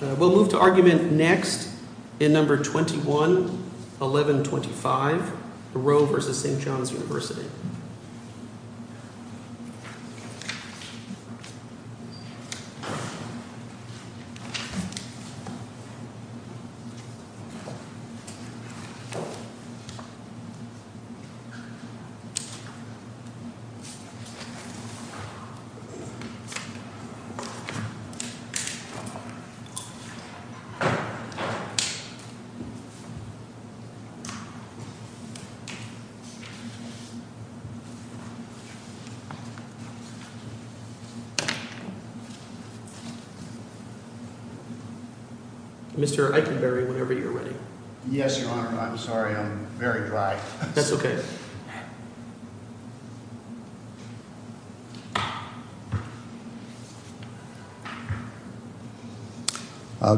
We'll move to argument next in No. 21-1125, Roe v. St. John's University. No. 21-1125, Roe v. St. John's University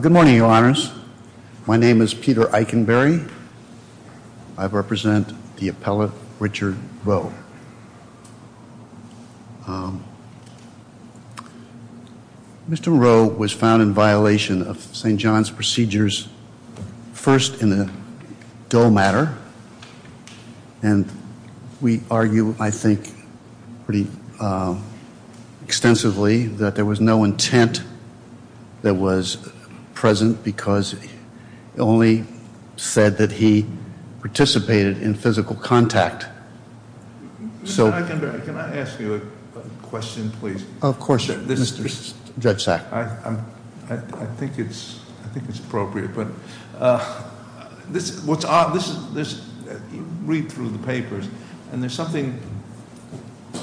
Good morning, Your Honors. My name is Peter Eikenberry. I represent the appellate Richard Roe. Mr. Roe was found in violation of St. John's procedures, first in a dull matter. And we argue, I think, pretty extensively that there was no intent that was present because it only said that he participated in physical contact. Mr. Eikenberry, can I ask you a question, please? Of course, Judge Sack. I think it's appropriate, but read through the papers, and there's something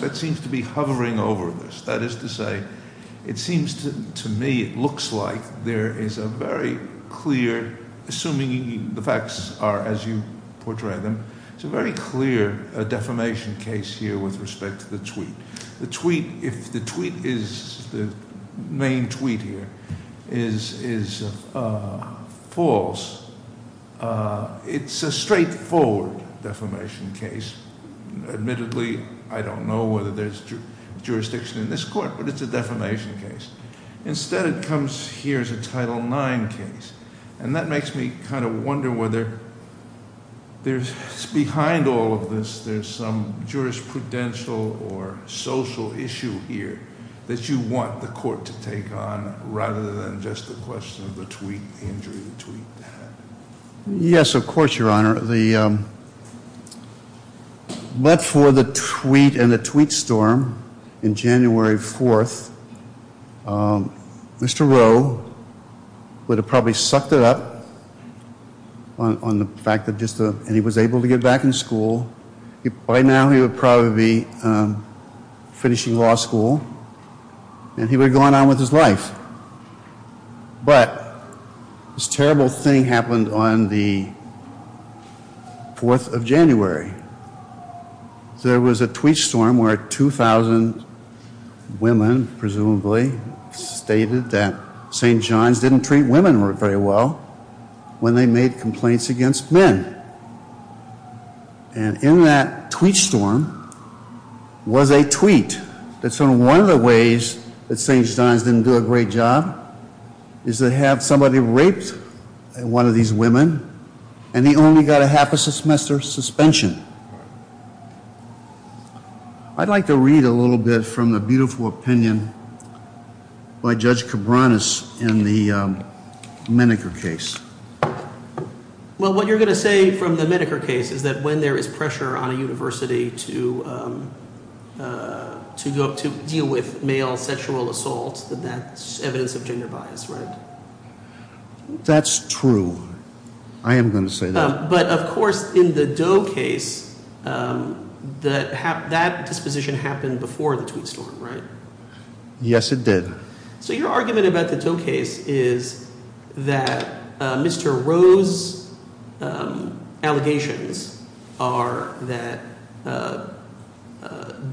that seems to be hovering over this. That is to say, it seems to me it looks like there is a very clear, assuming the facts are as you portray them, it's a very clear defamation case here with respect to the tweet. If the tweet is, the main tweet here, is false, it's a straightforward defamation case. Admittedly, I don't know whether there's jurisdiction in this court, but it's a defamation case. Instead, it comes here as a Title IX case. And that makes me kind of wonder whether there's, behind all of this, there's some jurisprudential or social issue here that you want the court to take on rather than just the question of the tweet, the injury of the tweet. Your Honor, but for the tweet and the tweet storm in January 4th, Mr. Rowe would have probably sucked it up on the fact that he was able to get back in school. By now he would probably be finishing law school, and he would have gone on with his life. But this terrible thing happened on the 4th of January. There was a tweet storm where 2,000 women, presumably, stated that St. John's didn't treat women very well when they made complaints against men. And in that tweet storm was a tweet that said one of the ways that St. John's didn't do a great job is to have somebody raped one of these women, and he only got a half-a-semester suspension. I'd like to read a little bit from the beautiful opinion by Judge Cabranes in the Menneker case. Well, what you're going to say from the Menneker case is that when there is pressure on a university to deal with male sexual assault, that that's evidence of gender bias, right? That's true. I am going to say that. But, of course, in the Doe case, that disposition happened before the tweet storm, right? Yes, it did. So your argument about the Doe case is that Mr. Roe's allegations are that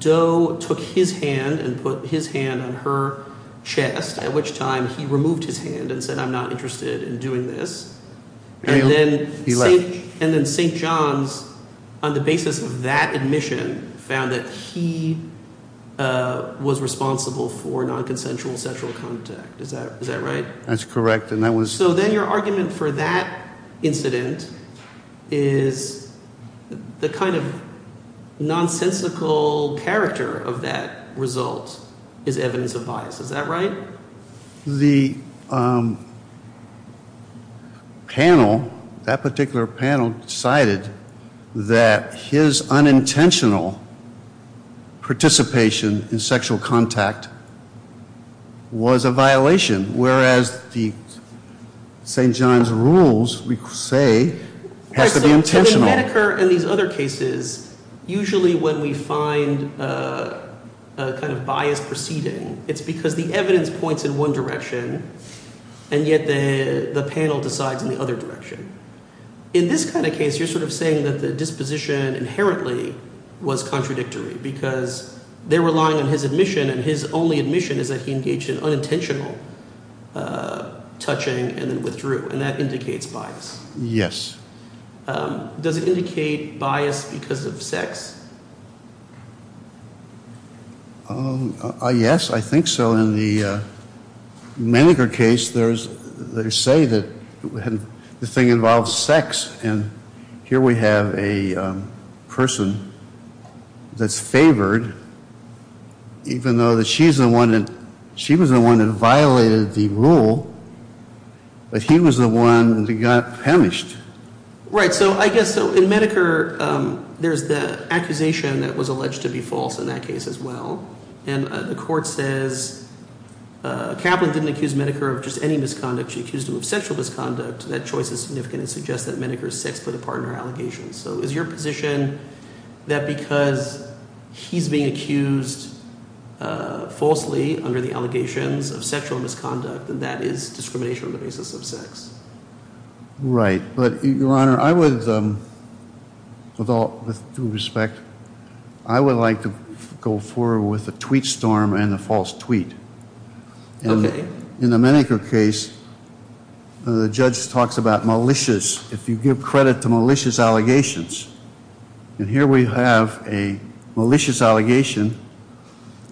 Doe took his hand and put his hand on her chest, at which time he removed his hand and said, I'm not interested in doing this. And then St. John's, on the basis of that admission, found that he was responsible for nonconsensual sexual contact. Is that right? That's correct. So then your argument for that incident is the kind of nonsensical character of that result is evidence of bias. Is that right? The panel, that particular panel, decided that his unintentional participation in sexual contact was a violation, whereas the St. John's rules, we say, has to be intentional. But in Medicare and these other cases, usually when we find a kind of bias proceeding, it's because the evidence points in one direction, and yet the panel decides in the other direction. In this kind of case, you're sort of saying that the disposition inherently was contradictory because they're relying on his admission, and his only admission is that he engaged in unintentional touching and then withdrew, and that indicates bias. Yes. Does it indicate bias because of sex? Yes, I think so. In the Medicare case, they say that the thing involves sex. And here we have a person that's favored, even though she was the one that violated the rule, but he was the one that got punished. Right. So I guess in Medicare, there's the accusation that was alleged to be false in that case as well. And the court says Kaplan didn't accuse Medicare of just any misconduct. She accused him of sexual misconduct. That choice is significant and suggests that Medicare is sex-related partner allegations. So is your position that because he's being accused falsely under the allegations of sexual misconduct, that that is discrimination on the basis of sex? Right. But, Your Honor, I would, with all due respect, I would like to go forward with the tweet storm and the false tweet. Okay. In the Medicare case, the judge talks about malicious, if you give credit to malicious allegations. And here we have a malicious allegation,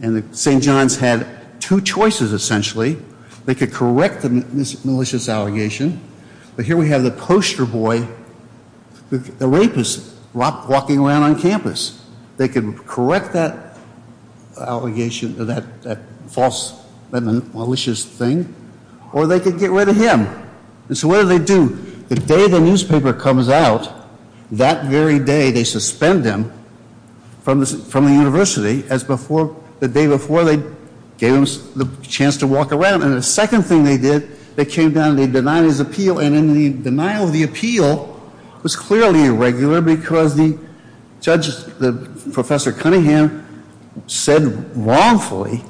and St. John's had two choices, essentially. They could correct the malicious allegation, but here we have the poster boy, the rapist, walking around on campus. They could correct that allegation, that malicious thing, or they could get rid of him. And so what do they do? The day the newspaper comes out, that very day, they suspend him from the university as the day before they gave him the chance to walk around. And the second thing they did, they came down and they denied his appeal. And the denial of the appeal was clearly irregular because the judge, Professor Cunningham, said wrongfully,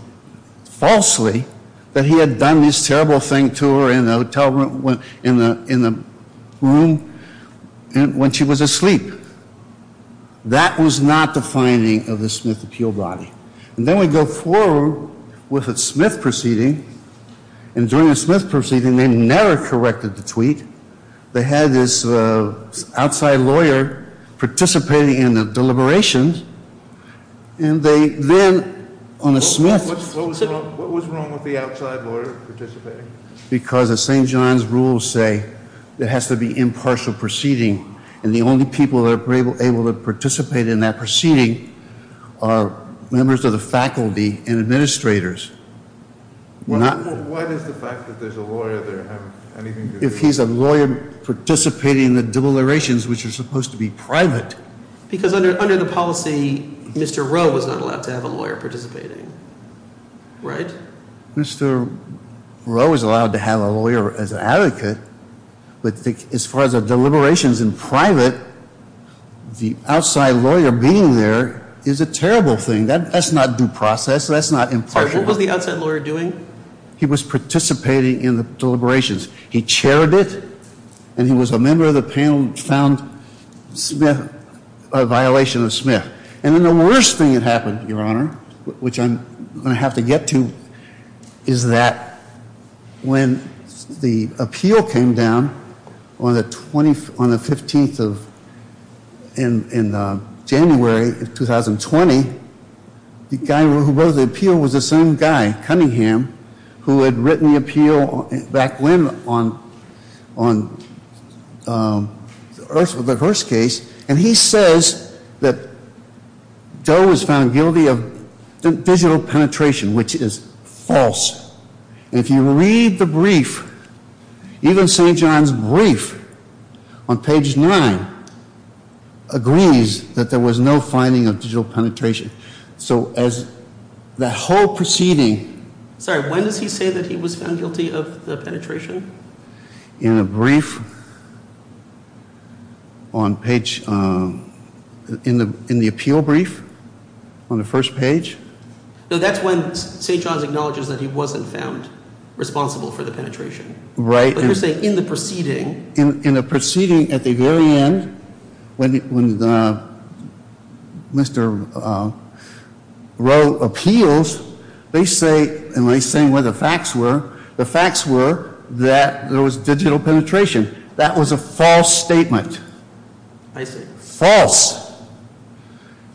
falsely, that he had done this terrible thing to her in the hotel room, in the room when she was asleep. That was not the finding of the Smith appeal body. And then we go forward with the Smith proceeding, and during the Smith proceeding, they never corrected the tweet. They had this outside lawyer participating in the deliberations, and they then, on the Smith. What was wrong with the outside lawyer participating? Because the St. John's rules say there has to be impartial proceeding, and the only people that are able to participate in that proceeding are members of the faculty and administrators. Why does the fact that there's a lawyer there have anything to do with it? If he's a lawyer participating in the deliberations, which are supposed to be private. Because under the policy, Mr. Rowe was not allowed to have a lawyer participating, right? Mr. Rowe was allowed to have a lawyer as an advocate, but as far as the deliberations in private, the outside lawyer being there is a terrible thing. That's not due process. That's not impartial. What was the outside lawyer doing? He was participating in the deliberations. He chaired it, and he was a member of the panel who found a violation of Smith. And then the worst thing that happened, Your Honor, which I'm going to have to get to, is that when the appeal came down on the 15th of January of 2020, the guy who wrote the appeal was the same guy, Cunningham, who had written the appeal back when on the Hearst case. And he says that Joe was found guilty of digital penetration, which is false. And if you read the brief, even St. John's brief on page 9 agrees that there was no finding of digital penetration. So as the whole proceeding... Sorry, when does he say that he was found guilty of the penetration? In a brief on page—in the appeal brief on the first page? No, that's when St. John's acknowledges that he wasn't found responsible for the penetration. Right. But you're saying in the proceeding... When Mr. Rowe appeals, they say—and he's saying where the facts were—the facts were that there was digital penetration. That was a false statement. I see. False.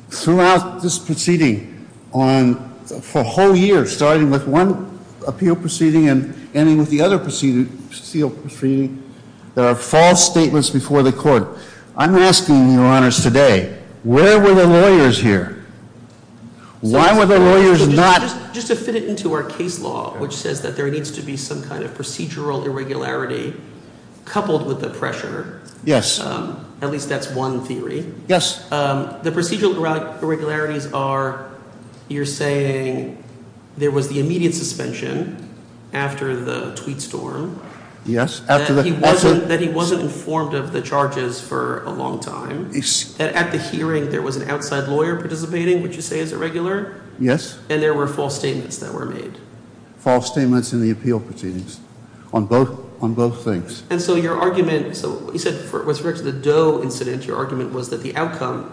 Throughout this proceeding, for a whole year, starting with one appeal proceeding and ending with the other proceeding, there are false statements before the court. I'm asking you, Your Honors, today, where were the lawyers here? Why were the lawyers not— Just to fit it into our case law, which says that there needs to be some kind of procedural irregularity coupled with the pressure. Yes. At least that's one theory. Yes. The procedural irregularities are you're saying there was the immediate suspension after the tweet storm. Yes. That he wasn't informed of the charges for a long time. At the hearing, there was an outside lawyer participating, which you say is irregular. Yes. And there were false statements that were made. False statements in the appeal proceedings on both things. And so your argument—so you said with respect to the Doe incident, your argument was that the outcome,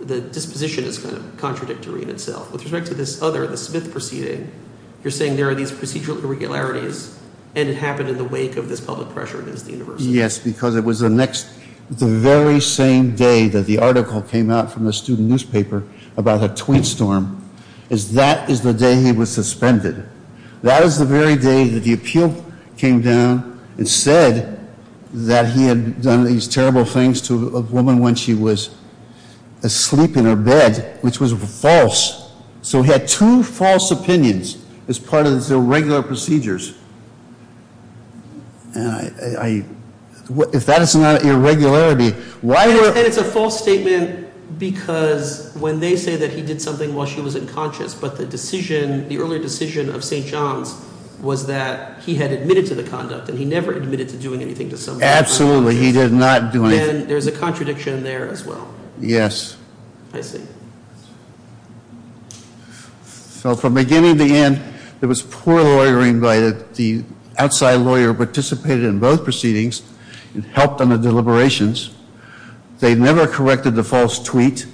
the disposition is kind of contradictory in itself. With respect to this other, the Smith proceeding, you're saying there are these procedural irregularities, and it happened in the wake of this public pressure against the university. Yes, because it was the next—the very same day that the article came out from the student newspaper about the tweet storm, is that is the day he was suspended. That is the very day that the appeal came down and said that he had done these terrible things to a woman when she was asleep in her bed, which was false. So he had two false opinions as part of his irregular procedures. And I—if that is not irregularity, why— And it's a false statement because when they say that he did something while she was unconscious, but the decision, the earlier decision of St. John's was that he had admitted to the conduct, and he never admitted to doing anything to someone. Absolutely. He did not do anything. Then there's a contradiction there as well. Yes. I see. So from beginning to end, there was poor lawyering by the—the outside lawyer participated in both proceedings and helped on the deliberations. They never corrected the false tweet.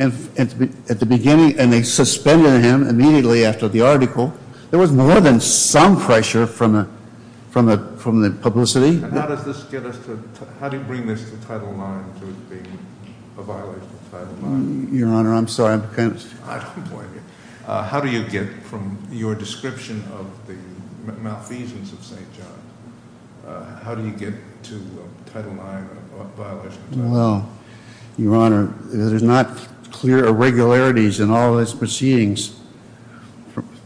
And at the beginning—and they suspended him immediately after the article. There was more than some pressure from the publicity. And how does this get us to—how do you bring this to Title IX to it being a violation of Title IX? Your Honor, I'm sorry. I'm kind of— I don't blame you. How do you get, from your description of the malfeasance of St. John, how do you get to Title IX a violation of Title IX? Well, Your Honor, there's not clear irregularities in all of his proceedings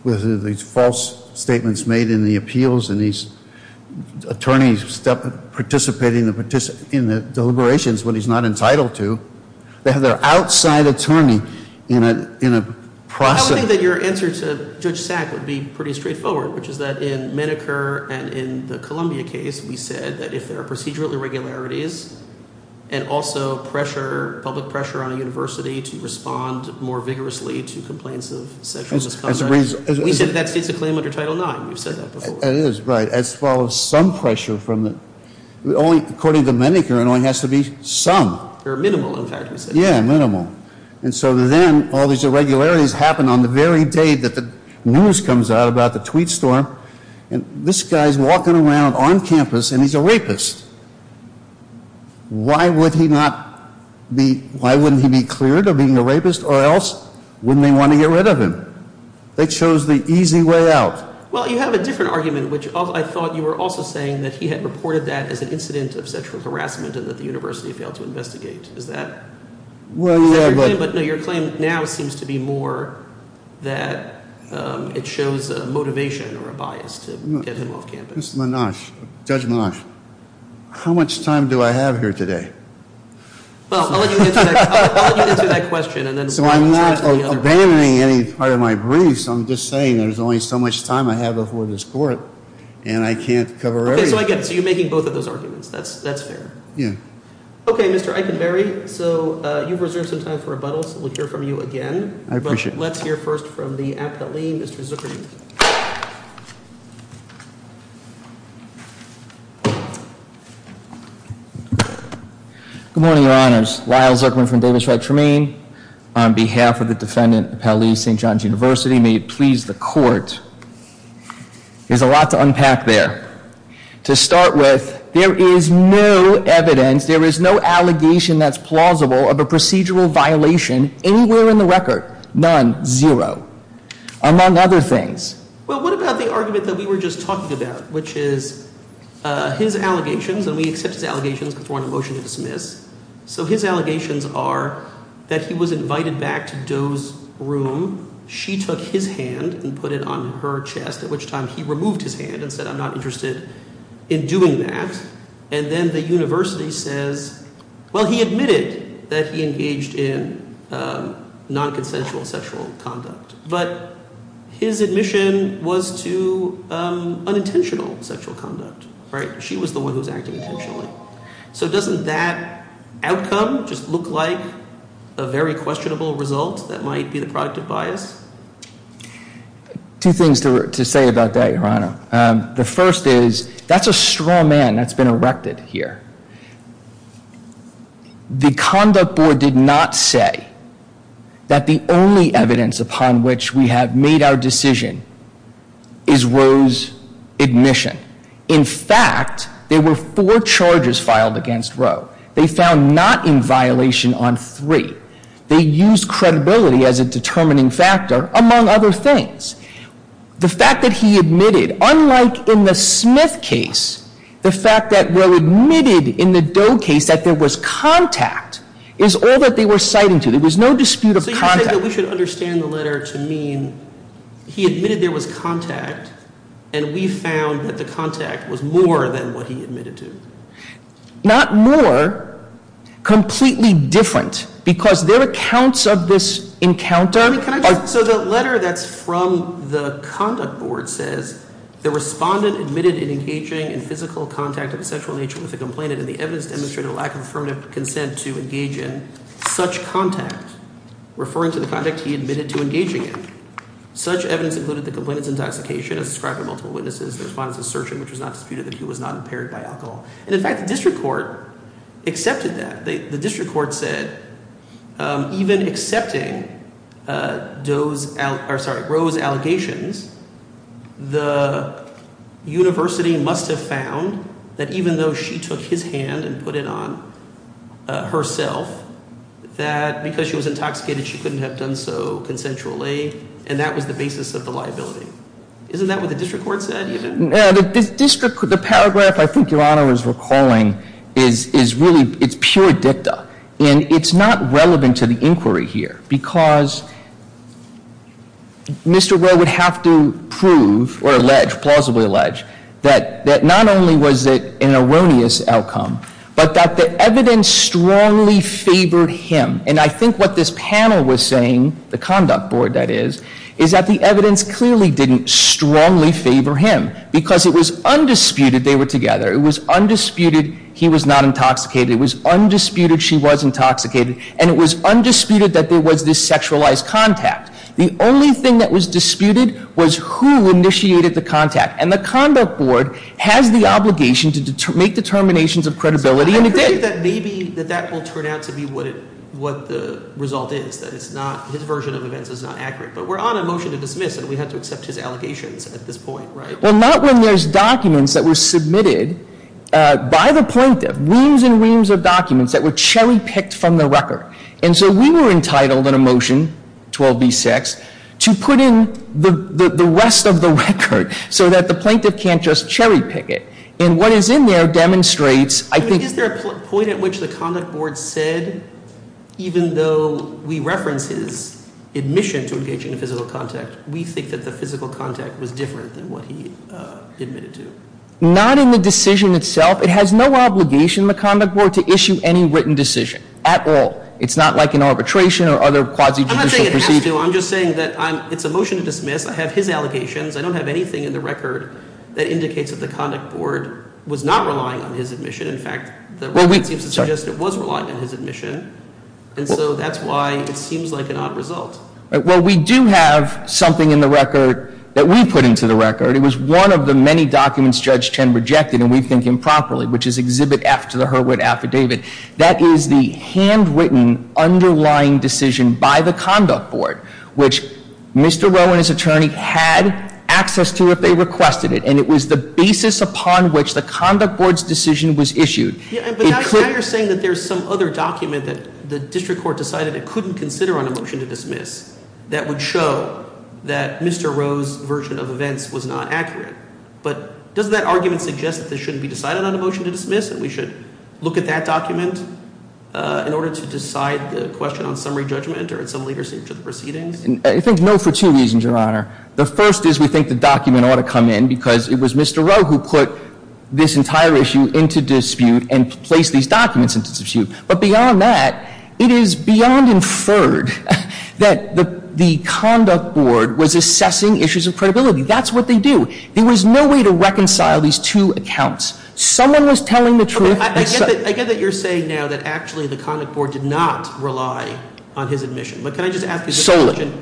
with these false statements made in the appeals and these attorneys participating in the deliberations when he's not entitled to. They have their outside attorney in a process— I don't think that your answer to Judge Sack would be pretty straightforward, which is that in Menneker and in the Columbia case, we said that if there are procedural irregularities and also pressure, public pressure on a university to respond more vigorously to complaints of sexual misconduct— As a reason— We said that states a claim under Title IX. We've said that before. It is, right, as far as some pressure from the—according to Menneker, it only has to be some. Or minimal, in fact, we said. Yeah, minimal. And so then all these irregularities happen on the very day that the news comes out about the tweet storm. And this guy's walking around on campus, and he's a rapist. Why would he not be—why wouldn't he be cleared of being a rapist? Or else, wouldn't they want to get rid of him? They chose the easy way out. Well, you have a different argument, which I thought you were also saying that he had reported that as an incident of sexual harassment and that the university failed to investigate. Is that— Well, yeah, but— But no, your claim now seems to be more that it shows a motivation or a bias to get him off campus. Judge Menache, how much time do I have here today? Well, I'll let you get to that question, and then— So I'm not abandoning any part of my briefs. I'm just saying there's only so much time I have before this court, and I can't cover everything. Okay, so I get it. So you're making both of those arguments. That's fair. Yeah. Okay, Mr. Eikenberry, so you've reserved some time for rebuttals. We'll hear from you again. I appreciate it. But let's hear first from the appellee, Mr. Zuckerman. Good morning, Your Honors. Lyle Zuckerman from Davis Retromaine. On behalf of the defendant, Appellee St. John's University, may it please the court. There's a lot to unpack there. To start with, there is no evidence, there is no allegation that's plausible of a procedural violation anywhere in the record. None. Zero. Among other things. Well, what about the argument that we were just talking about, which is his allegations, and we accept his allegations. We're throwing a motion to dismiss. So his allegations are that he was invited back to Doe's room. She took his hand and put it on her chest, at which time he removed his hand and said, I'm not interested in doing that. And then the university says, well, he admitted that he engaged in nonconsensual sexual conduct. But his admission was to unintentional sexual conduct. She was the one who was acting intentionally. So doesn't that outcome just look like a very questionable result that might be the product of bias? The first is, that's a straw man that's been erected here. The conduct board did not say that the only evidence upon which we have made our decision is Roe's admission. In fact, there were four charges filed against Roe. They found not in violation on three. They used credibility as a determining factor, among other things. The fact that he admitted, unlike in the Smith case, the fact that Roe admitted in the Doe case that there was contact is all that they were citing to. There was no dispute of contact. So you're saying that we should understand the letter to mean he admitted there was contact, and we found that the contact was more than what he admitted to? Not more. Completely different. Because their accounts of this encounter are- The conduct board says, The respondent admitted in engaging in physical contact of a sexual nature with a complainant, and the evidence demonstrated a lack of affirmative consent to engage in such contact. Referring to the contact he admitted to engaging in. Such evidence included the complainant's intoxication as described by multiple witnesses, the respondent's assertion which was not disputed that he was not impaired by alcohol. And, in fact, the district court accepted that. The district court said, even accepting Roe's allegations, the university must have found that even though she took his hand and put it on herself, that because she was intoxicated, she couldn't have done so consensually, and that was the basis of the liability. Isn't that what the district court said, even? The district, the paragraph I think Your Honor is recalling is really, it's pure dicta. And it's not relevant to the inquiry here, because Mr. Roe would have to prove or allege, plausibly allege, that not only was it an erroneous outcome, but that the evidence strongly favored him. And I think what this panel was saying, the conduct board, that is, is that the evidence clearly didn't strongly favor him, because it was undisputed they were together. It was undisputed he was not intoxicated. It was undisputed she was intoxicated. And it was undisputed that there was this sexualized contact. The only thing that was disputed was who initiated the contact. And the conduct board has the obligation to make determinations of credibility, and it did. I predict that maybe that that will turn out to be what the result is, that it's not, his version of events is not accurate. But we're on a motion to dismiss, and we have to accept his allegations at this point, right? Well, not when there's documents that were submitted by the plaintiff, reams and reams of documents that were cherry picked from the record. And so we were entitled in a motion, 12B6, to put in the rest of the record, so that the plaintiff can't just cherry pick it. And what is in there demonstrates, I think- Is there a point at which the conduct board said, even though we reference his admission to engaging in physical contact, we think that the physical contact was different than what he admitted to? Not in the decision itself. It has no obligation in the conduct board to issue any written decision at all. It's not like an arbitration or other quasi-judicial proceedings. I'm not saying it has to. I'm just saying that it's a motion to dismiss. I have his allegations. I don't have anything in the record that indicates that the conduct board was not relying on his admission. In fact, the record seems to suggest it was relying on his admission. And so that's why it seems like an odd result. Well, we do have something in the record that we put into the record. It was one of the many documents Judge Chen rejected, and we think improperly, which is Exhibit F to the Hurwit Affidavit. That is the handwritten underlying decision by the conduct board, which Mr. Rowe and his attorney had access to if they requested it. And it was the basis upon which the conduct board's decision was issued. But now you're saying that there's some other document that the district court decided it couldn't consider on a motion to dismiss that would show that Mr. Rowe's version of events was not accurate. But doesn't that argument suggest that this shouldn't be decided on a motion to dismiss and we should look at that document in order to decide the question on summary judgment or in some later stage of the proceedings? I think no for two reasons, Your Honor. The first is we think the document ought to come in because it was Mr. Rowe who put this entire issue into dispute and placed these documents into dispute. But beyond that, it is beyond inferred that the conduct board was assessing issues of credibility. That's what they do. There was no way to reconcile these two accounts. Someone was telling the truth. I get that you're saying now that actually the conduct board did not rely on his admission. But can I just ask a question? Solely.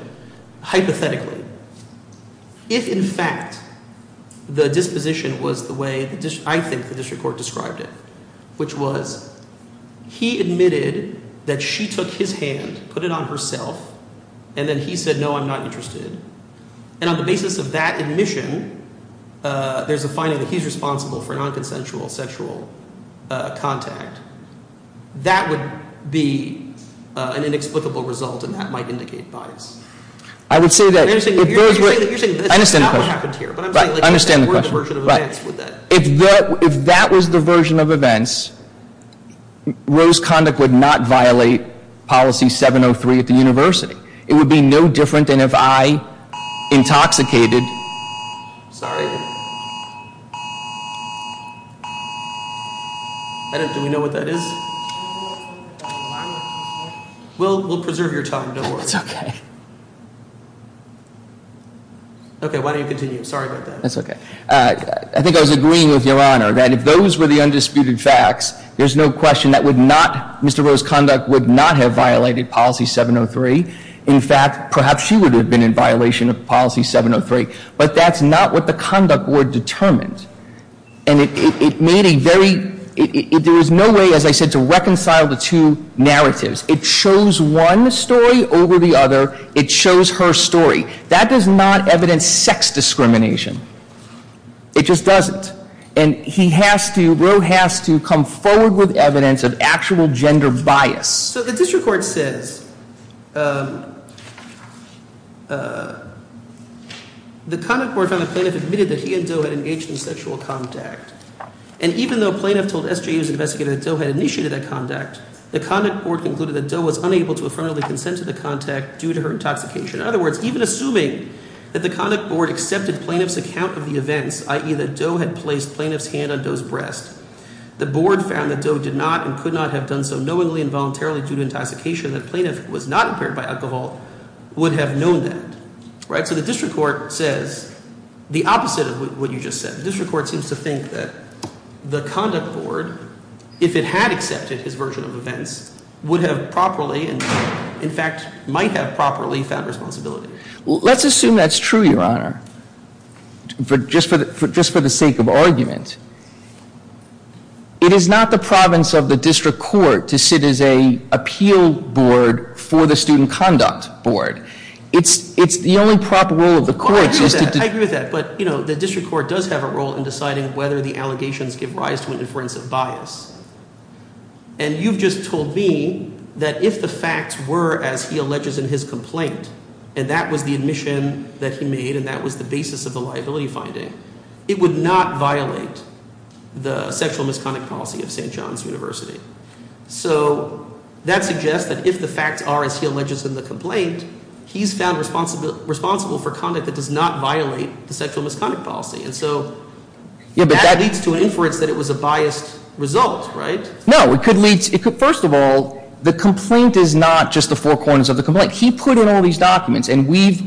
Hypothetically, if in fact the disposition was the way I think the district court described it, which was he admitted that she took his hand, put it on herself, and then he said, no, I'm not interested. And on the basis of that admission, there's a finding that he's responsible for nonconsensual sexual contact. That would be an inexplicable result and that might indicate bias. I would say that. You're saying that's not what happened here. I understand the question. But I'm saying like if that were the version of events, would that? If that was the version of events, Rowe's conduct would not violate policy 703 at the university. It would be no different than if I intoxicated. Sorry. Do we know what that is? We'll preserve your time. No worries. It's OK. OK, why don't you continue? Sorry about that. That's OK. I think I was agreeing with Your Honor that if those were the undisputed facts, there's no question that would not, Mr. Rowe's conduct would not have violated policy 703. In fact, perhaps she would have been in violation of policy 703. But that's not what the conduct board determined. And it made a very, there is no way, as I said, to reconcile the two narratives. It shows one story over the other. It shows her story. That does not evidence sex discrimination. It just doesn't. And he has to, Rowe has to come forward with evidence of actual gender bias. So the district court says, the conduct board found that Planoff admitted that he and Doe had engaged in sexual contact. And even though Planoff told SJU's investigator that Doe had initiated that contact, the conduct board concluded that Doe was unable to affirmatively consent to the contact due to her intoxication. In other words, even assuming that the conduct board accepted Planoff's account of the events, i.e. that Doe had placed Planoff's hand on Doe's breast, the board found that Doe did not and could not have done so knowingly and voluntarily due to intoxication that Planoff was not impaired by alcohol, would have known that. Right? So the district court says the opposite of what you just said. The district court seems to think that the conduct board, if it had accepted his version of events, would have properly, in fact, might have properly found responsibility. Let's assume that's true, Your Honor, just for the sake of argument. It is not the province of the district court to sit as an appeal board for the student conduct board. It's the only proper role of the courts is to— I agree with that. But the district court does have a role in deciding whether the allegations give rise to an inference of bias. And you've just told me that if the facts were as he alleges in his complaint, and that was the admission that he made and that was the basis of the liability finding, it would not violate the sexual misconduct policy of St. John's University. So that suggests that if the facts are as he alleges in the complaint, he's found responsible for conduct that does not violate the sexual misconduct policy. And so that leads to an inference that it was a biased result, right? No. First of all, the complaint is not just the four corners of the complaint. He put in all these documents, and we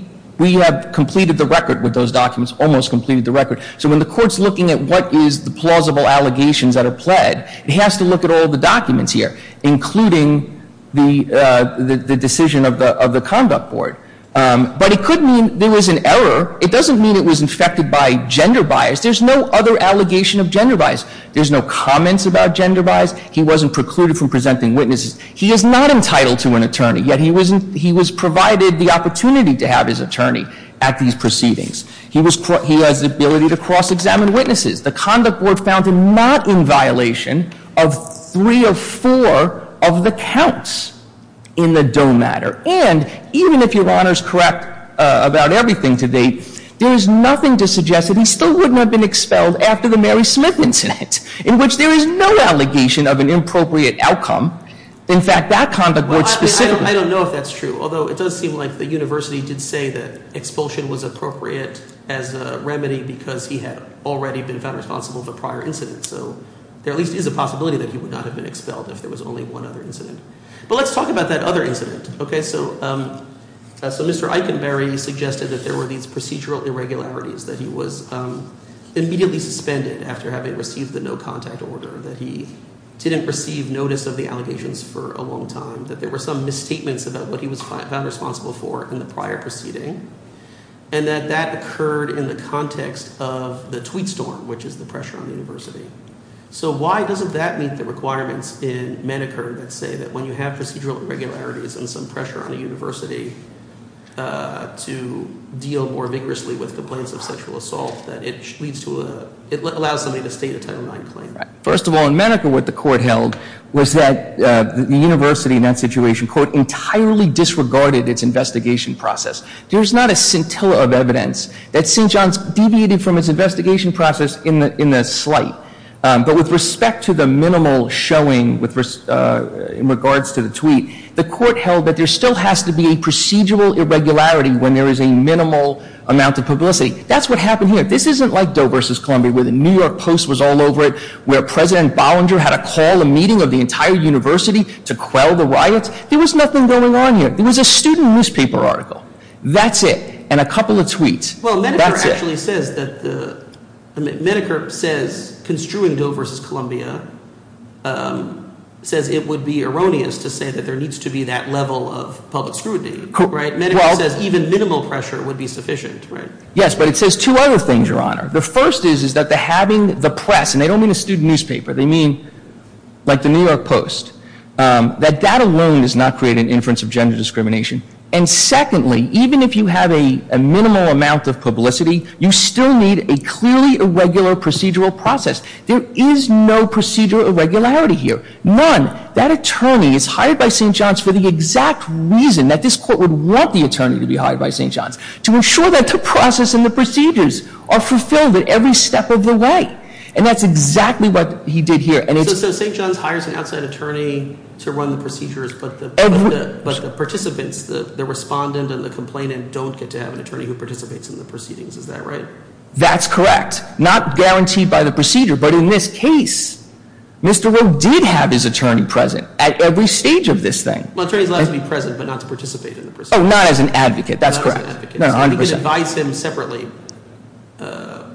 have completed the record with those documents, almost completed the record. So when the court's looking at what is the plausible allegations that are pled, it has to look at all the documents here, including the decision of the conduct board. But it could mean there was an error. It doesn't mean it was infected by gender bias. There's no other allegation of gender bias. There's no comments about gender bias. He wasn't precluded from presenting witnesses. He is not entitled to an attorney, yet he was provided the opportunity to have his attorney at these proceedings. He has the ability to cross-examine witnesses. The conduct board found him not in violation of three of four of the counts in the Doe matter. And even if Your Honor is correct about everything to date, there is nothing to suggest that he still wouldn't have been expelled after the Mary Smith incident, in which there is no allegation of an inappropriate outcome. In fact, that conduct board specifically. I don't know if that's true, although it does seem like the university did say that expulsion was appropriate as a remedy because he had already been found responsible for prior incidents. So there at least is a possibility that he would not have been expelled if there was only one other incident. But let's talk about that other incident. Okay, so Mr. Eikenberry suggested that there were these procedural irregularities, that he was immediately suspended after having received the no-contact order, that he didn't receive notice of the allegations for a long time, that there were some misstatements about what he was found responsible for in the prior proceeding, and that that occurred in the context of the tweet storm, which is the pressure on the university. So why doesn't that meet the requirements in Maneker that say that when you have procedural irregularities and some pressure on a university to deal more vigorously with complaints of sexual assault, that it allows somebody to state a Title IX claim? First of all, in Maneker what the court held was that the university in that situation, quote, entirely disregarded its investigation process. There's not a scintilla of evidence that St. John's deviated from its investigation process in the slight. But with respect to the minimal showing in regards to the tweet, the court held that there still has to be a procedural irregularity when there is a minimal amount of publicity. That's what happened here. This isn't like Doe versus Columbia where the New York Post was all over it, where President Bollinger had to call a meeting of the entire university to quell the riots. There was nothing going on here. There was a student newspaper article. That's it. And a couple of tweets. That's it. Well, Maneker actually says that the – Maneker says, construing Doe versus Columbia, says it would be erroneous to say that there needs to be that level of public scrutiny, right? Maneker says even minimal pressure would be sufficient, right? Yes, but it says two other things, Your Honor. The first is that having the press – and they don't mean a student newspaper, they mean like the New York Post – that that alone does not create an inference of gender discrimination. And secondly, even if you have a minimal amount of publicity, you still need a clearly irregular procedural process. There is no procedural irregularity here. None. That attorney is hired by St. John's for the exact reason that this court would want the attorney to be hired by St. John's, to ensure that the process and the procedures are fulfilled at every step of the way. And that's exactly what he did here. So St. John's hires an outside attorney to run the procedures, but the participants, the respondent and the complainant, don't get to have an attorney who participates in the proceedings. Is that right? That's correct. That's not guaranteed by the procedure, but in this case, Mr. Rowe did have his attorney present at every stage of this thing. Well, an attorney is allowed to be present but not to participate in the procedure. Oh, not as an advocate. That's correct. Not as an advocate. No, 100 percent. So he could advise him separately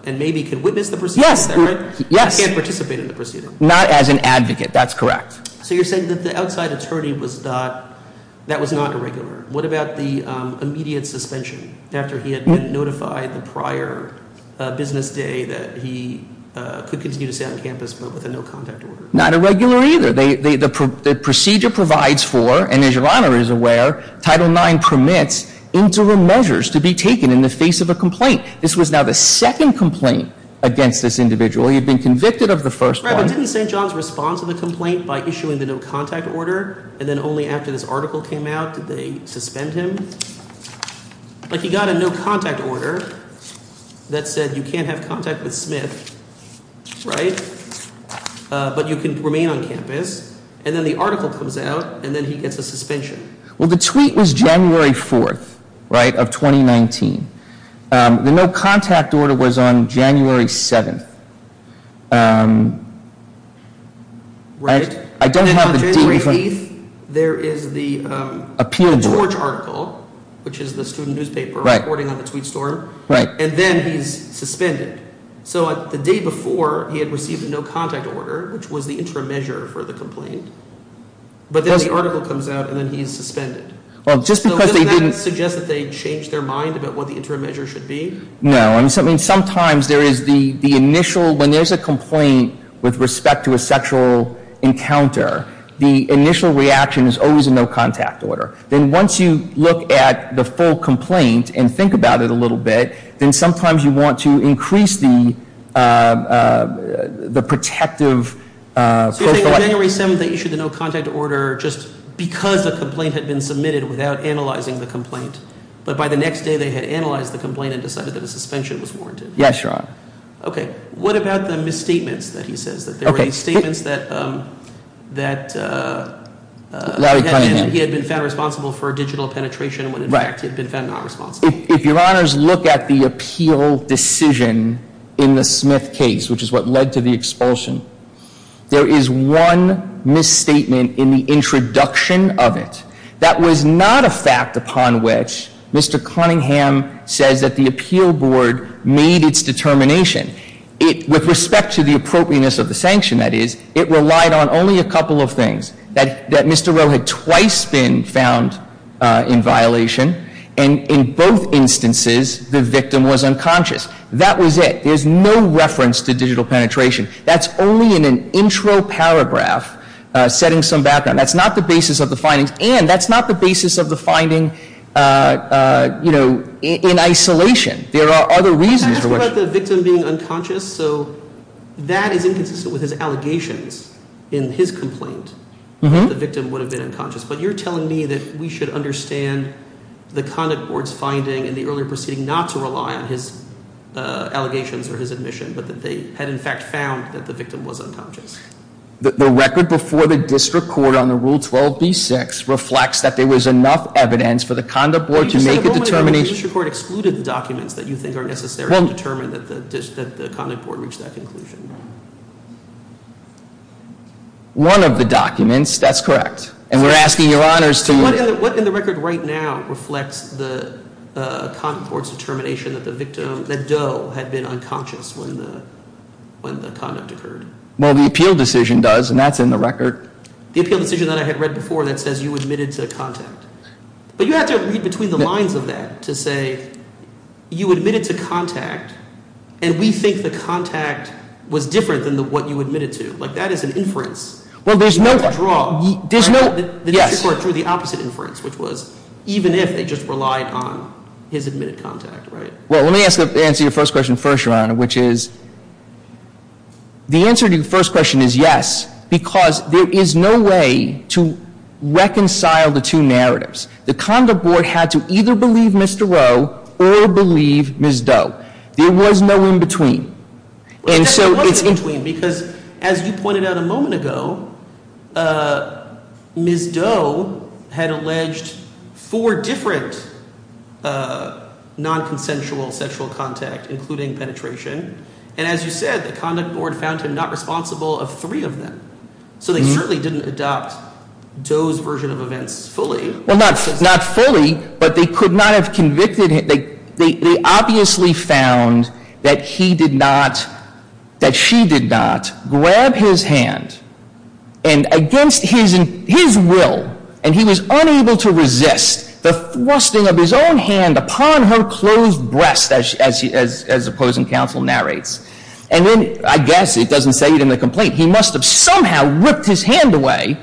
and maybe could witness the procedure separately. Yes. But he can't participate in the procedure. Not as an advocate. That's correct. So you're saying that the outside attorney was not – that was not irregular. What about the immediate suspension after he had notified the prior business day that he could continue to stay on campus but with a no-contact order? Not irregular either. The procedure provides for, and as Your Honor is aware, Title IX permits, interim measures to be taken in the face of a complaint. This was now the second complaint against this individual. He had been convicted of the first one. But didn't St. John's respond to the complaint by issuing the no-contact order and then only after this article came out did they suspend him? Like he got a no-contact order that said you can't have contact with Smith, right, but you can remain on campus. And then the article comes out, and then he gets a suspension. Well, the tweet was January 4th, right, of 2019. The no-contact order was on January 7th. Right. I don't have the date. Then on January 8th, there is the Torch article, which is the student newspaper reporting on the tweet storm. And then he's suspended. So the day before, he had received a no-contact order, which was the interim measure for the complaint. But then the article comes out, and then he's suspended. Well, just because they didn't— So doesn't that suggest that they changed their mind about what the interim measure should be? No. I mean, sometimes there is the initial—when there's a complaint with respect to a sexual encounter, the initial reaction is always a no-contact order. Then once you look at the full complaint and think about it a little bit, then sometimes you want to increase the protective— So you're saying on January 7th, they issued the no-contact order just because a complaint had been submitted without analyzing the complaint. But by the next day, they had analyzed the complaint and decided that a suspension was warranted. Yes, Your Honor. Okay. What about the misstatements that he says, that there were statements that he had been found responsible for a digital penetration when, in fact, he had been found not responsible? If Your Honors look at the appeal decision in the Smith case, which is what led to the expulsion, there is one misstatement in the introduction of it that was not a fact upon which Mr. Cunningham says that the appeal board made its determination. With respect to the appropriateness of the sanction, that is, it relied on only a couple of things. That Mr. Rowe had twice been found in violation, and in both instances, the victim was unconscious. That was it. There's no reference to digital penetration. That's only in an intro paragraph setting some background. That's not the basis of the findings, and that's not the basis of the finding in isolation. Can I ask about the victim being unconscious? So that is inconsistent with his allegations in his complaint, that the victim would have been unconscious. But you're telling me that we should understand the conduct board's finding in the earlier proceeding not to rely on his allegations or his admission, but that they had, in fact, found that the victim was unconscious. The record before the district court on the Rule 12b-6 reflects that there was enough evidence for the conduct board to make a determination. The district court excluded the documents that you think are necessary to determine that the conduct board reached that conclusion. One of the documents, that's correct, and we're asking your honors to – What in the record right now reflects the conduct board's determination that the victim, that Doe, had been unconscious when the conduct occurred? Well, the appeal decision does, and that's in the record. The appeal decision that I had read before that says you admitted to contact. But you have to read between the lines of that to say you admitted to contact, and we think the contact was different than what you admitted to. Like, that is an inference. Well, there's no – You have to draw. There's no – yes. The district court drew the opposite inference, which was even if they just relied on his admitted contact, right? Well, let me answer your first question first, your honor, which is – the answer to your first question is yes, because there is no way to reconcile the two narratives. The conduct board had to either believe Mr. Rowe or believe Ms. Doe. And so it's in between, because as you pointed out a moment ago, Ms. Doe had alleged four different nonconsensual sexual contact, including penetration. And as you said, the conduct board found him not responsible of three of them. So they certainly didn't adopt Doe's version of events fully. Well, not fully, but they could not have convicted – they obviously found that he did not – that she did not grab his hand. And against his will, and he was unable to resist the thrusting of his own hand upon her closed breast, as the opposing counsel narrates. And then – I guess it doesn't say it in the complaint – he must have somehow ripped his hand away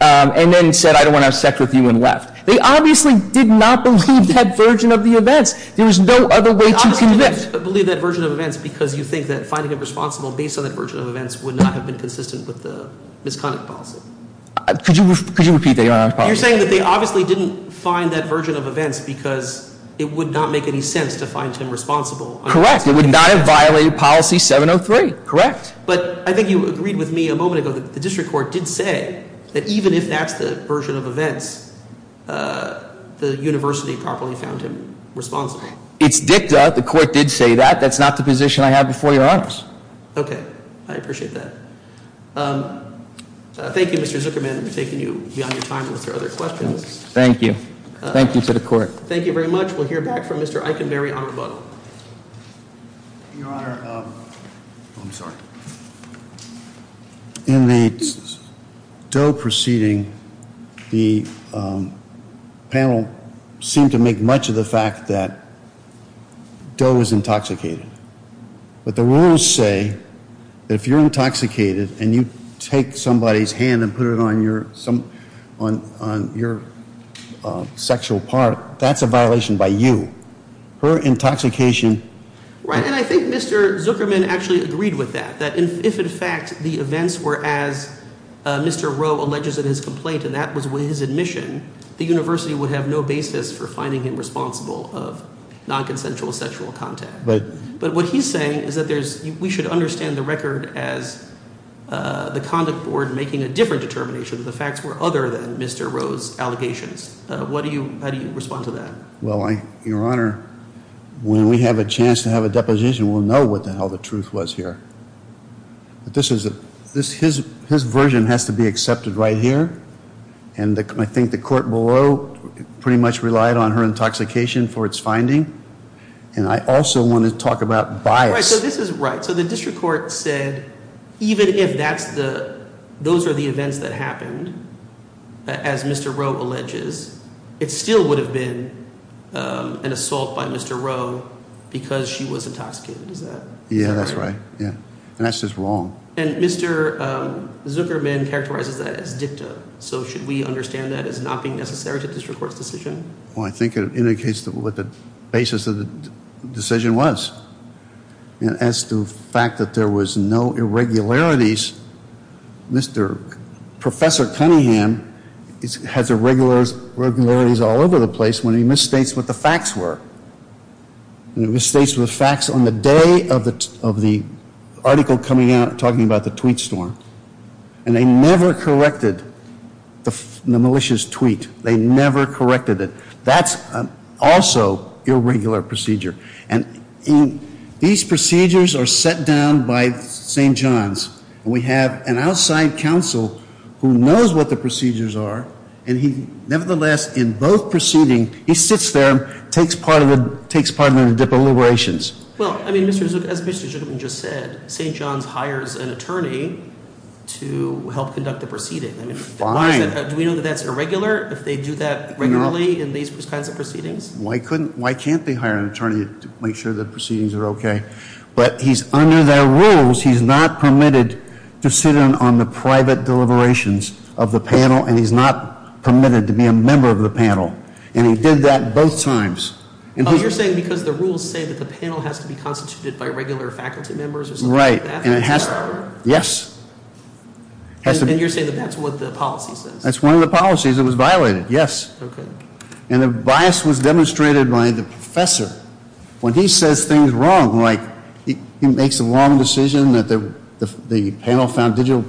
and then said I don't want to have sex with you and left. They obviously did not believe that version of the events. There was no other way to convict. They obviously didn't believe that version of events because you think that finding him responsible based on that version of events would not have been consistent with the misconduct policy. Could you repeat that, your honor? You're saying that they obviously didn't find that version of events because it would not make any sense to find him responsible. Correct. It would not have violated policy 703. Correct. But I think you agreed with me a moment ago that the district court did say that even if that's the version of events, the university properly found him responsible. It's dicta. The court did say that. That's not the position I have before your honors. Okay. I appreciate that. Thank you, Mr. Zuckerman, for taking you beyond your time with your other questions. Thank you. Thank you to the court. Thank you very much. We'll hear back from Mr. Eikenberry on rebuttal. Your honor, I'm sorry. In the Doe proceeding, the panel seemed to make much of the fact that Doe was intoxicated. But the rules say that if you're intoxicated and you take somebody's hand and put it on your sexual part, that's a violation by you. Her intoxication. Right. And I think Mr. Zuckerman actually agreed with that, that if, in fact, the events were as Mr. Rowe alleges in his complaint, and that was with his admission, the university would have no basis for finding him responsible of nonconsensual sexual contact. But what he's saying is that we should understand the record as the conduct board making a different determination that the facts were other than Mr. Rowe's allegations. How do you respond to that? Well, your honor, when we have a chance to have a deposition, we'll know what the hell the truth was here. His version has to be accepted right here. And I think the court below pretty much relied on her intoxication for its finding. And I also want to talk about bias. Right, so this is right. So the district court said even if those are the events that happened, as Mr. Rowe alleges, it still would have been an assault by Mr. Rowe because she was intoxicated. Is that correct? Yeah, that's right. And that's just wrong. And Mr. Zuckerman characterizes that as dicta. So should we understand that as not being necessary to the district court's decision? Well, I think it indicates what the basis of the decision was. And as to the fact that there was no irregularities, Mr. Professor Cunningham has irregularities all over the place when he misstates what the facts were. He misstates the facts on the day of the article coming out talking about the tweet storm. And they never corrected the malicious tweet. They never corrected it. That's also irregular procedure. And these procedures are set down by St. John's. And we have an outside counsel who knows what the procedures are, and he nevertheless in both proceeding, he sits there, takes part of the deliberations. Well, I mean, as Mr. Zuckerman just said, St. John's hires an attorney to help conduct the proceeding. Fine. Do we know that that's irregular if they do that regularly in these kinds of proceedings? Why can't they hire an attorney to make sure the proceedings are okay? But he's under their rules. He's not permitted to sit on the private deliberations of the panel, and he's not permitted to be a member of the panel. And he did that both times. You're saying because the rules say that the panel has to be constituted by regular faculty members or something like that? Right. Yes. And you're saying that that's what the policy says? That's one of the policies that was violated, yes. Okay. And the bias was demonstrated by the professor. When he says things wrong, like he makes a wrong decision that the panel found digital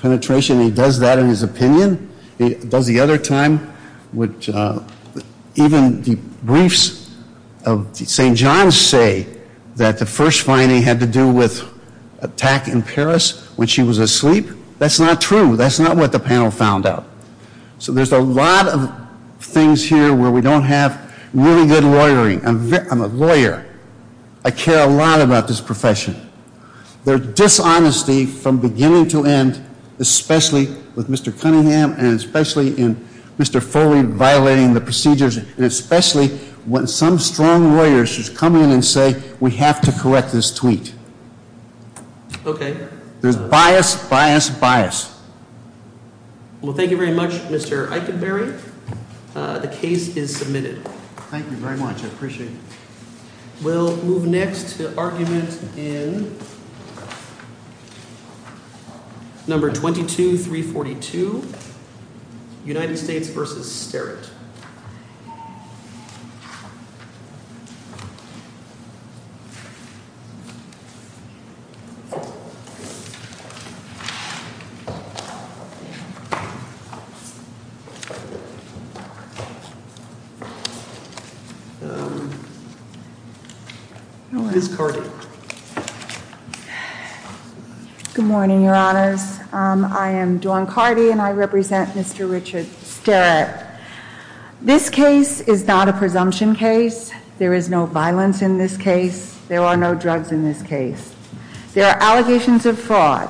penetration, he does that in his opinion. He does the other time, which even the briefs of St. John's say that the first finding had to do with attack in Paris when she was asleep. That's not true. That's not what the panel found out. So there's a lot of things here where we don't have really good lawyering. I'm a lawyer. I care a lot about this profession. Their dishonesty from beginning to end, especially with Mr. Cunningham and especially in Mr. Foley violating the procedures, and especially when some strong lawyer should come in and say we have to correct this tweet. Okay. There's bias, bias, bias. Well, thank you very much, Mr. Eikenberry. The case is submitted. Thank you very much. I appreciate it. We'll move next to argument in. Ms. Carty. Good morning, Your Honors. I am Dawn Carty, and I represent Mr. Richard Sterrett. This case is not a presumption case. There is no violence in this case. There are no drugs in this case. There are allegations of fraud.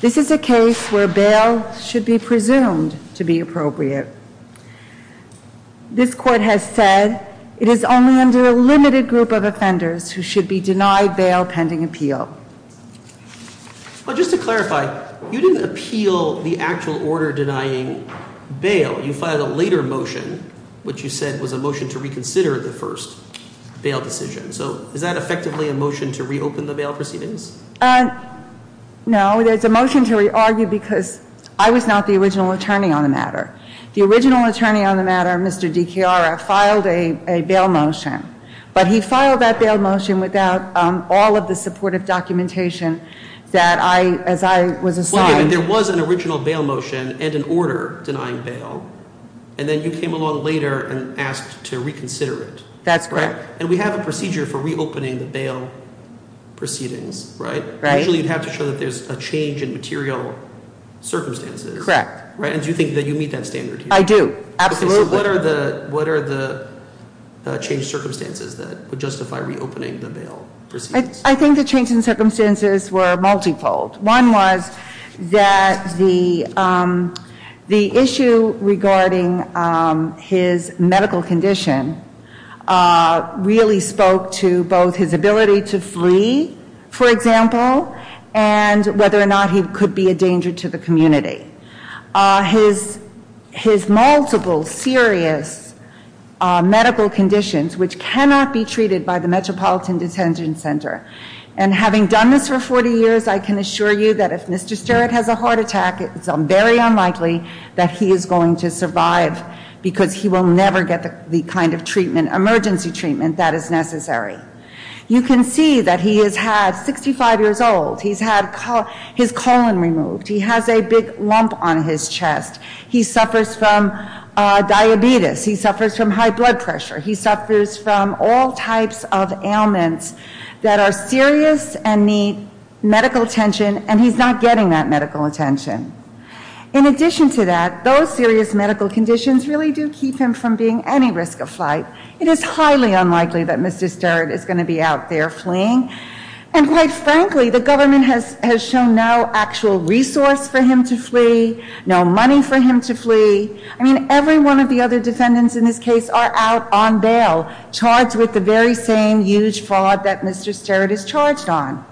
This is a case where bail should be presumed to be appropriate. This court has said it is only under a limited group of offenders who should be denied bail pending appeal. Well, just to clarify, you didn't appeal the actual order denying bail. You filed a later motion, which you said was a motion to reconsider the first bail decision. So is that effectively a motion to reopen the bail proceedings? No. It's a motion to re-argue because I was not the original attorney on the matter. The original attorney on the matter, Mr. DiChiara, filed a bail motion. But he filed that bail motion without all of the supportive documentation that I, as I was assigned. There was an original bail motion and an order denying bail, and then you came along later and asked to reconsider it. That's correct. And we have a procedure for reopening the bail proceedings, right? Right. Usually you'd have to show that there's a change in material circumstances. Correct. And do you think that you meet that standard here? I do. Absolutely. So what are the changed circumstances that would justify reopening the bail proceedings? I think the changed circumstances were multifold. One was that the issue regarding his medical condition really spoke to both his ability to flee, for example, and whether or not he could be a danger to the community. His multiple serious medical conditions, which cannot be treated by the Metropolitan Detention Center, and having done this for 40 years, I can assure you that if Mr. Sterritt has a heart attack, it's very unlikely that he is going to survive because he will never get the kind of emergency treatment that is necessary. You can see that he is 65 years old. He's had his colon removed. He has a big lump on his chest. He suffers from diabetes. He suffers from high blood pressure. He suffers from all types of ailments that are serious and need medical attention, and he's not getting that medical attention. In addition to that, those serious medical conditions really do keep him from being any risk of flight. It is highly unlikely that Mr. Sterritt is going to be out there fleeing. And quite frankly, the government has shown no actual resource for him to flee, no money for him to flee. I mean, every one of the other defendants in this case are out on bail, charged with the very same huge fraud that Mr. Sterritt is charged on.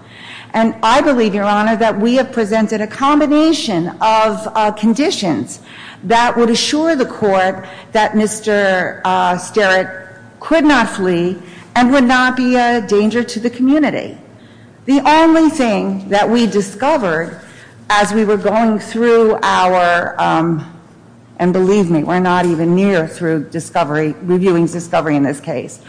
And I believe, Your Honor, that we have presented a combination of conditions that would assure the court that Mr. Sterritt could not flee and would not be a danger to the community. The only thing that we discovered as we were going through our, and believe me, we're not even near through reviewing discovery in this case,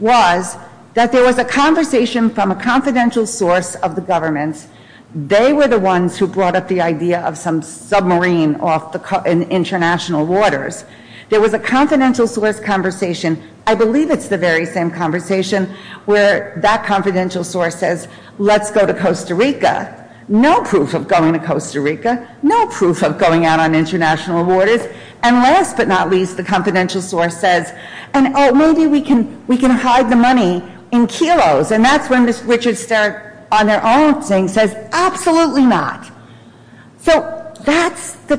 was that there was a conversation from a confidential source of the government. They were the ones who brought up the idea of some submarine off in international waters. There was a confidential source conversation, I believe it's the very same conversation, where that confidential source says, let's go to Costa Rica. No proof of going to Costa Rica. No proof of going out on international waters. And last but not least, the confidential source says, oh, maybe we can hide the money in kilos. And that's when Mr. Richard Sterritt, on their own saying, says, absolutely not. So that's the,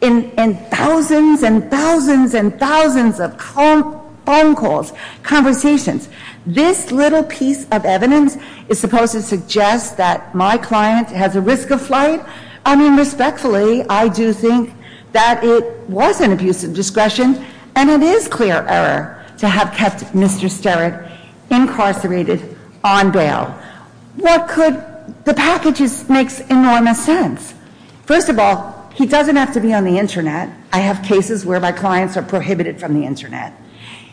in thousands and thousands and thousands of phone calls, conversations, this little piece of evidence is supposed to suggest that my client has a risk of flight? I mean, respectfully, I do think that it was an abuse of discretion, and it is clear error to have kept Mr. Sterritt incarcerated on bail. What could, the package makes enormous sense. First of all, he doesn't have to be on the Internet. I have cases where my clients are prohibited from the Internet.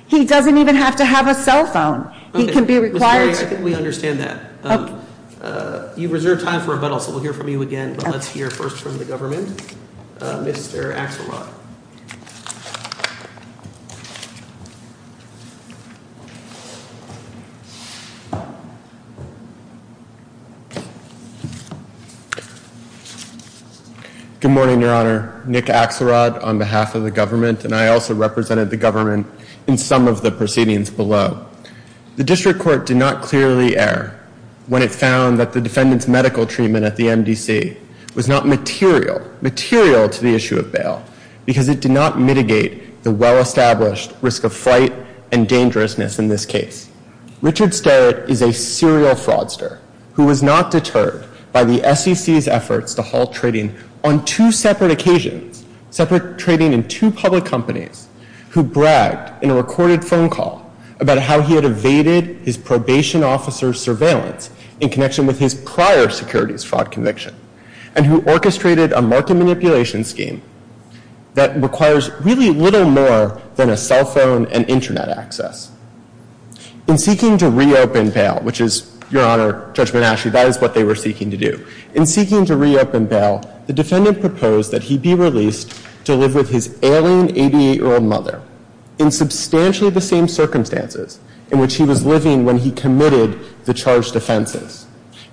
He doesn't even have to have a cell phone. He can be required to- Okay, Ms. Berry, I think we understand that. Okay. You've reserved time for rebuttal, so we'll hear from you again, but let's hear first from the government. Mr. Axelrod. Good morning, Your Honor. Nick Axelrod on behalf of the government, and I also represented the government in some of the proceedings below. The District Court did not clearly err when it found that the defendant's medical treatment at the MDC was not material, material to the issue of bail, because it did not mitigate the well-established risk of flight and dangerousness in this case. Richard Sterritt is a serial fraudster who was not deterred by the SEC's efforts to halt trading on two separate occasions, separate trading in two public companies, who bragged in a recorded phone call about how he had evaded his probation officer's surveillance in connection with his prior securities fraud conviction, and who orchestrated a market manipulation scheme that requires really little more than a cell phone and Internet access. In seeking to reopen bail, which is, Your Honor, Judge Monashi, that is what they were seeking to do. In seeking to reopen bail, the defendant proposed that he be released to live with his alien 88-year-old mother in substantially the same circumstances in which he was living when he committed the charged offenses,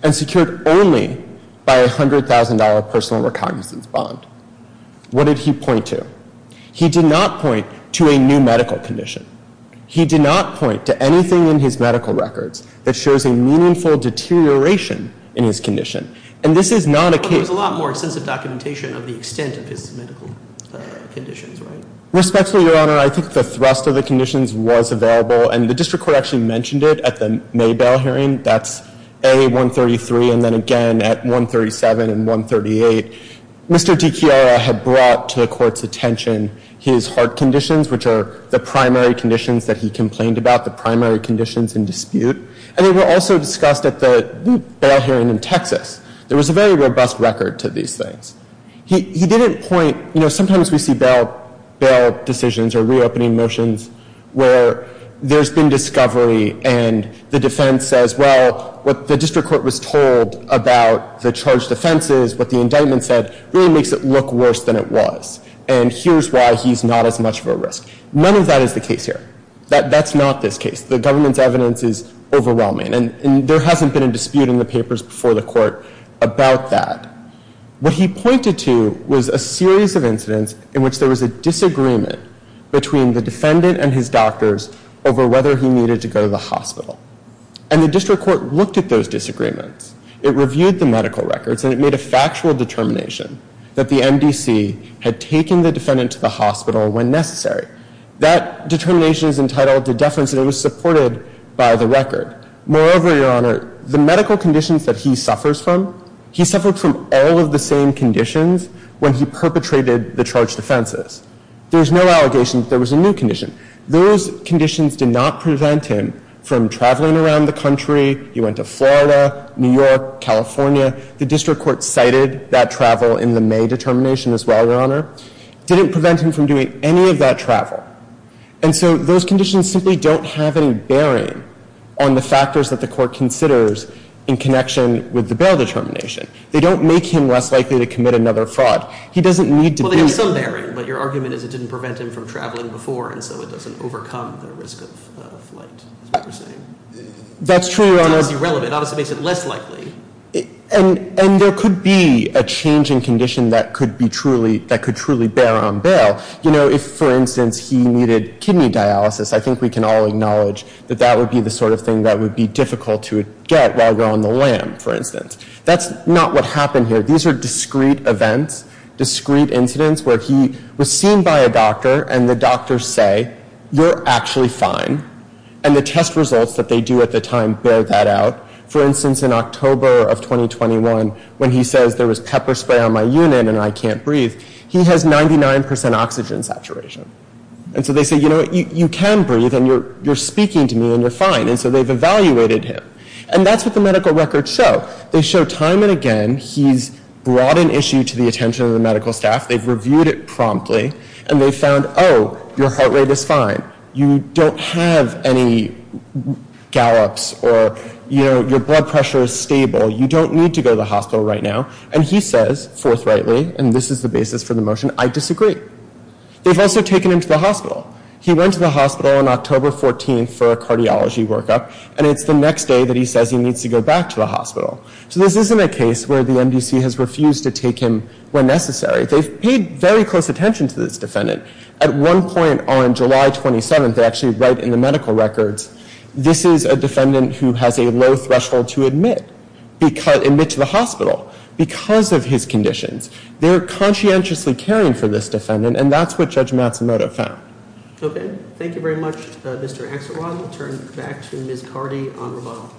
and secured only by a $100,000 personal recognizance bond. What did he point to? He did not point to a new medical condition. He did not point to anything in his medical records that shows a meaningful deterioration in his condition. And this is not a case— But there was a lot more extensive documentation of the extent of his medical conditions, right? Respectfully, Your Honor, I think the thrust of the conditions was available, and the district court actually mentioned it at the May bail hearing. That's A, 133, and then again at 137 and 138. Mr. DiChiara had brought to the court's attention his heart conditions, which are the primary conditions that he complained about, the primary conditions in dispute. And they were also discussed at the bail hearing in Texas. There was a very robust record to these things. He didn't point—you know, sometimes we see bail decisions or reopening motions where there's been discovery and the defense says, well, what the district court was told about the charged offenses, what the indictment said, really makes it look worse than it was. And here's why he's not as much of a risk. None of that is the case here. That's not this case. The government's evidence is overwhelming, and there hasn't been a dispute in the papers before the court about that. What he pointed to was a series of incidents in which there was a disagreement between the defendant and his doctors over whether he needed to go to the hospital. And the district court looked at those disagreements. It reviewed the medical records, and it made a factual determination that the MDC had taken the defendant to the hospital when necessary. That determination is entitled to deference, and it was supported by the record. Moreover, Your Honor, the medical conditions that he suffers from, he suffered from all of the same conditions when he perpetrated the charged offenses. There was no allegation that there was a new condition. Those conditions did not prevent him from traveling around the country. He went to Florida, New York, California. The district court cited that travel in the May determination as well, Your Honor. It didn't prevent him from doing any of that travel. And so those conditions simply don't have any bearing on the factors that the court considers in connection with the bail determination. They don't make him less likely to commit another fraud. He doesn't need to be. There is some bearing, but your argument is it didn't prevent him from traveling before, and so it doesn't overcome the risk of flight, is what you're saying. That's true, Your Honor. It's irrelevant. It obviously makes it less likely. And there could be a change in condition that could truly bear on bail. You know, if, for instance, he needed kidney dialysis, I think we can all acknowledge that that would be the sort of thing that would be difficult to get while you're on the lam, for instance. That's not what happened here. These are discrete events, discrete incidents where he was seen by a doctor and the doctors say, You're actually fine. And the test results that they do at the time bear that out. For instance, in October of 2021, when he says there was pepper spray on my unit and I can't breathe, he has 99% oxygen saturation. And so they say, You know what? You can breathe and you're speaking to me and you're fine. And so they've evaluated him. And that's what the medical records show. They show time and again he's brought an issue to the attention of the medical staff. They've reviewed it promptly. And they found, Oh, your heart rate is fine. You don't have any gallops or, you know, your blood pressure is stable. You don't need to go to the hospital right now. And he says forthrightly, and this is the basis for the motion, I disagree. They've also taken him to the hospital. He went to the hospital on October 14th for a cardiology workup. And it's the next day that he says he needs to go back to the hospital. So this isn't a case where the MDC has refused to take him where necessary. They've paid very close attention to this defendant. At one point on July 27th, they actually write in the medical records, This is a defendant who has a low threshold to admit to the hospital because of his conditions. They're conscientiously caring for this defendant. And that's what Judge Matsumoto found. Thank you very much, Mr. Axelrod. We'll turn it back to Ms. Cardi on rebuttal.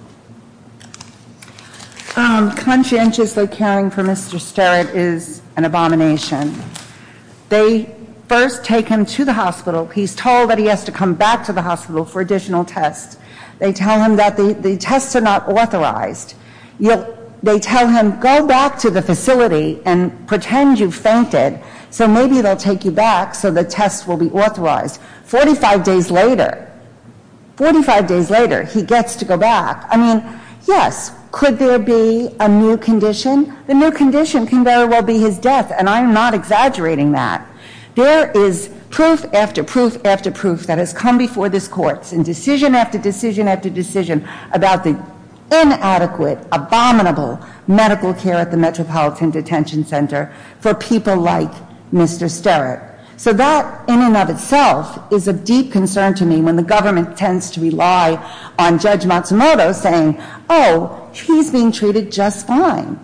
Conscientiously caring for Mr. Sterrett is an abomination. They first take him to the hospital. He's told that he has to come back to the hospital for additional tests. They tell him that the tests are not authorized. They tell him, Go back to the facility and pretend you fainted, so maybe they'll take you back so the tests will be authorized. Forty-five days later, he gets to go back. I mean, yes, could there be a new condition? The new condition can very well be his death, and I'm not exaggerating that. There is proof after proof after proof that has come before this court in decision after decision after decision about the inadequate, abominable medical care at the Metropolitan Detention Center for people like Mr. Sterrett. So that, in and of itself, is of deep concern to me when the government tends to rely on Judge Matsumoto saying, Oh, he's being treated just fine.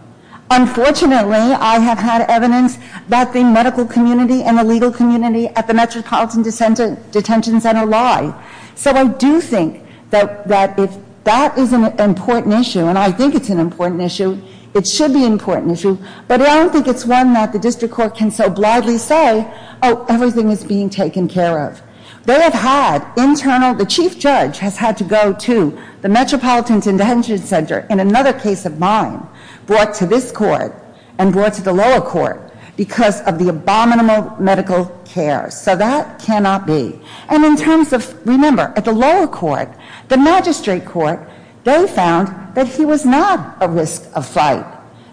Unfortunately, I have had evidence that the medical community and the legal community at the Metropolitan Detention Center lie. So I do think that if that is an important issue, and I think it's an important issue, it should be an important issue, but I don't think it's one that the district court can so blithely say, Oh, everything is being taken care of. They have had internal, the chief judge has had to go to the Metropolitan Detention Center, in another case of mine, brought to this court and brought to the lower court because of the abominable medical care. So that cannot be. And in terms of, remember, at the lower court, the magistrate court, they found that he was not a risk of fight.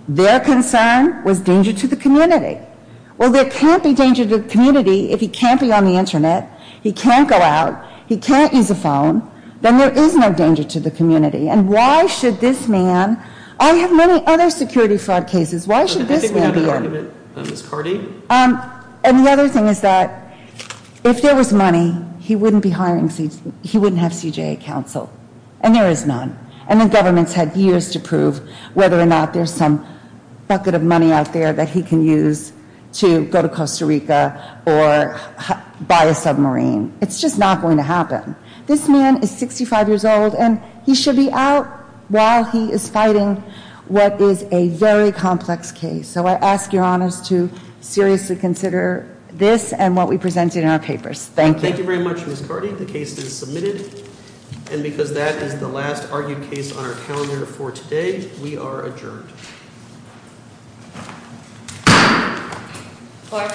Their concern was danger to the community. Well, there can't be danger to the community if he can't be on the Internet, he can't go out, he can't use a phone, then there is no danger to the community. And why should this man, I have many other security fraud cases, why should this man be in? And the other thing is that if there was money, he wouldn't have CJA counsel. And there is none. And the government has had years to prove whether or not there is some bucket of money out there that he can use to go to Costa Rica or buy a submarine. It's just not going to happen. This man is 65 years old and he should be out while he is fighting what is a very complex case. So I ask your honors to seriously consider this and what we presented in our papers. Thank you. Thank you very much, Ms. Carty. The case is submitted. And because that is the last argued case on our calendar for today, we are adjourned. Court is adjourned. Court is adjourned.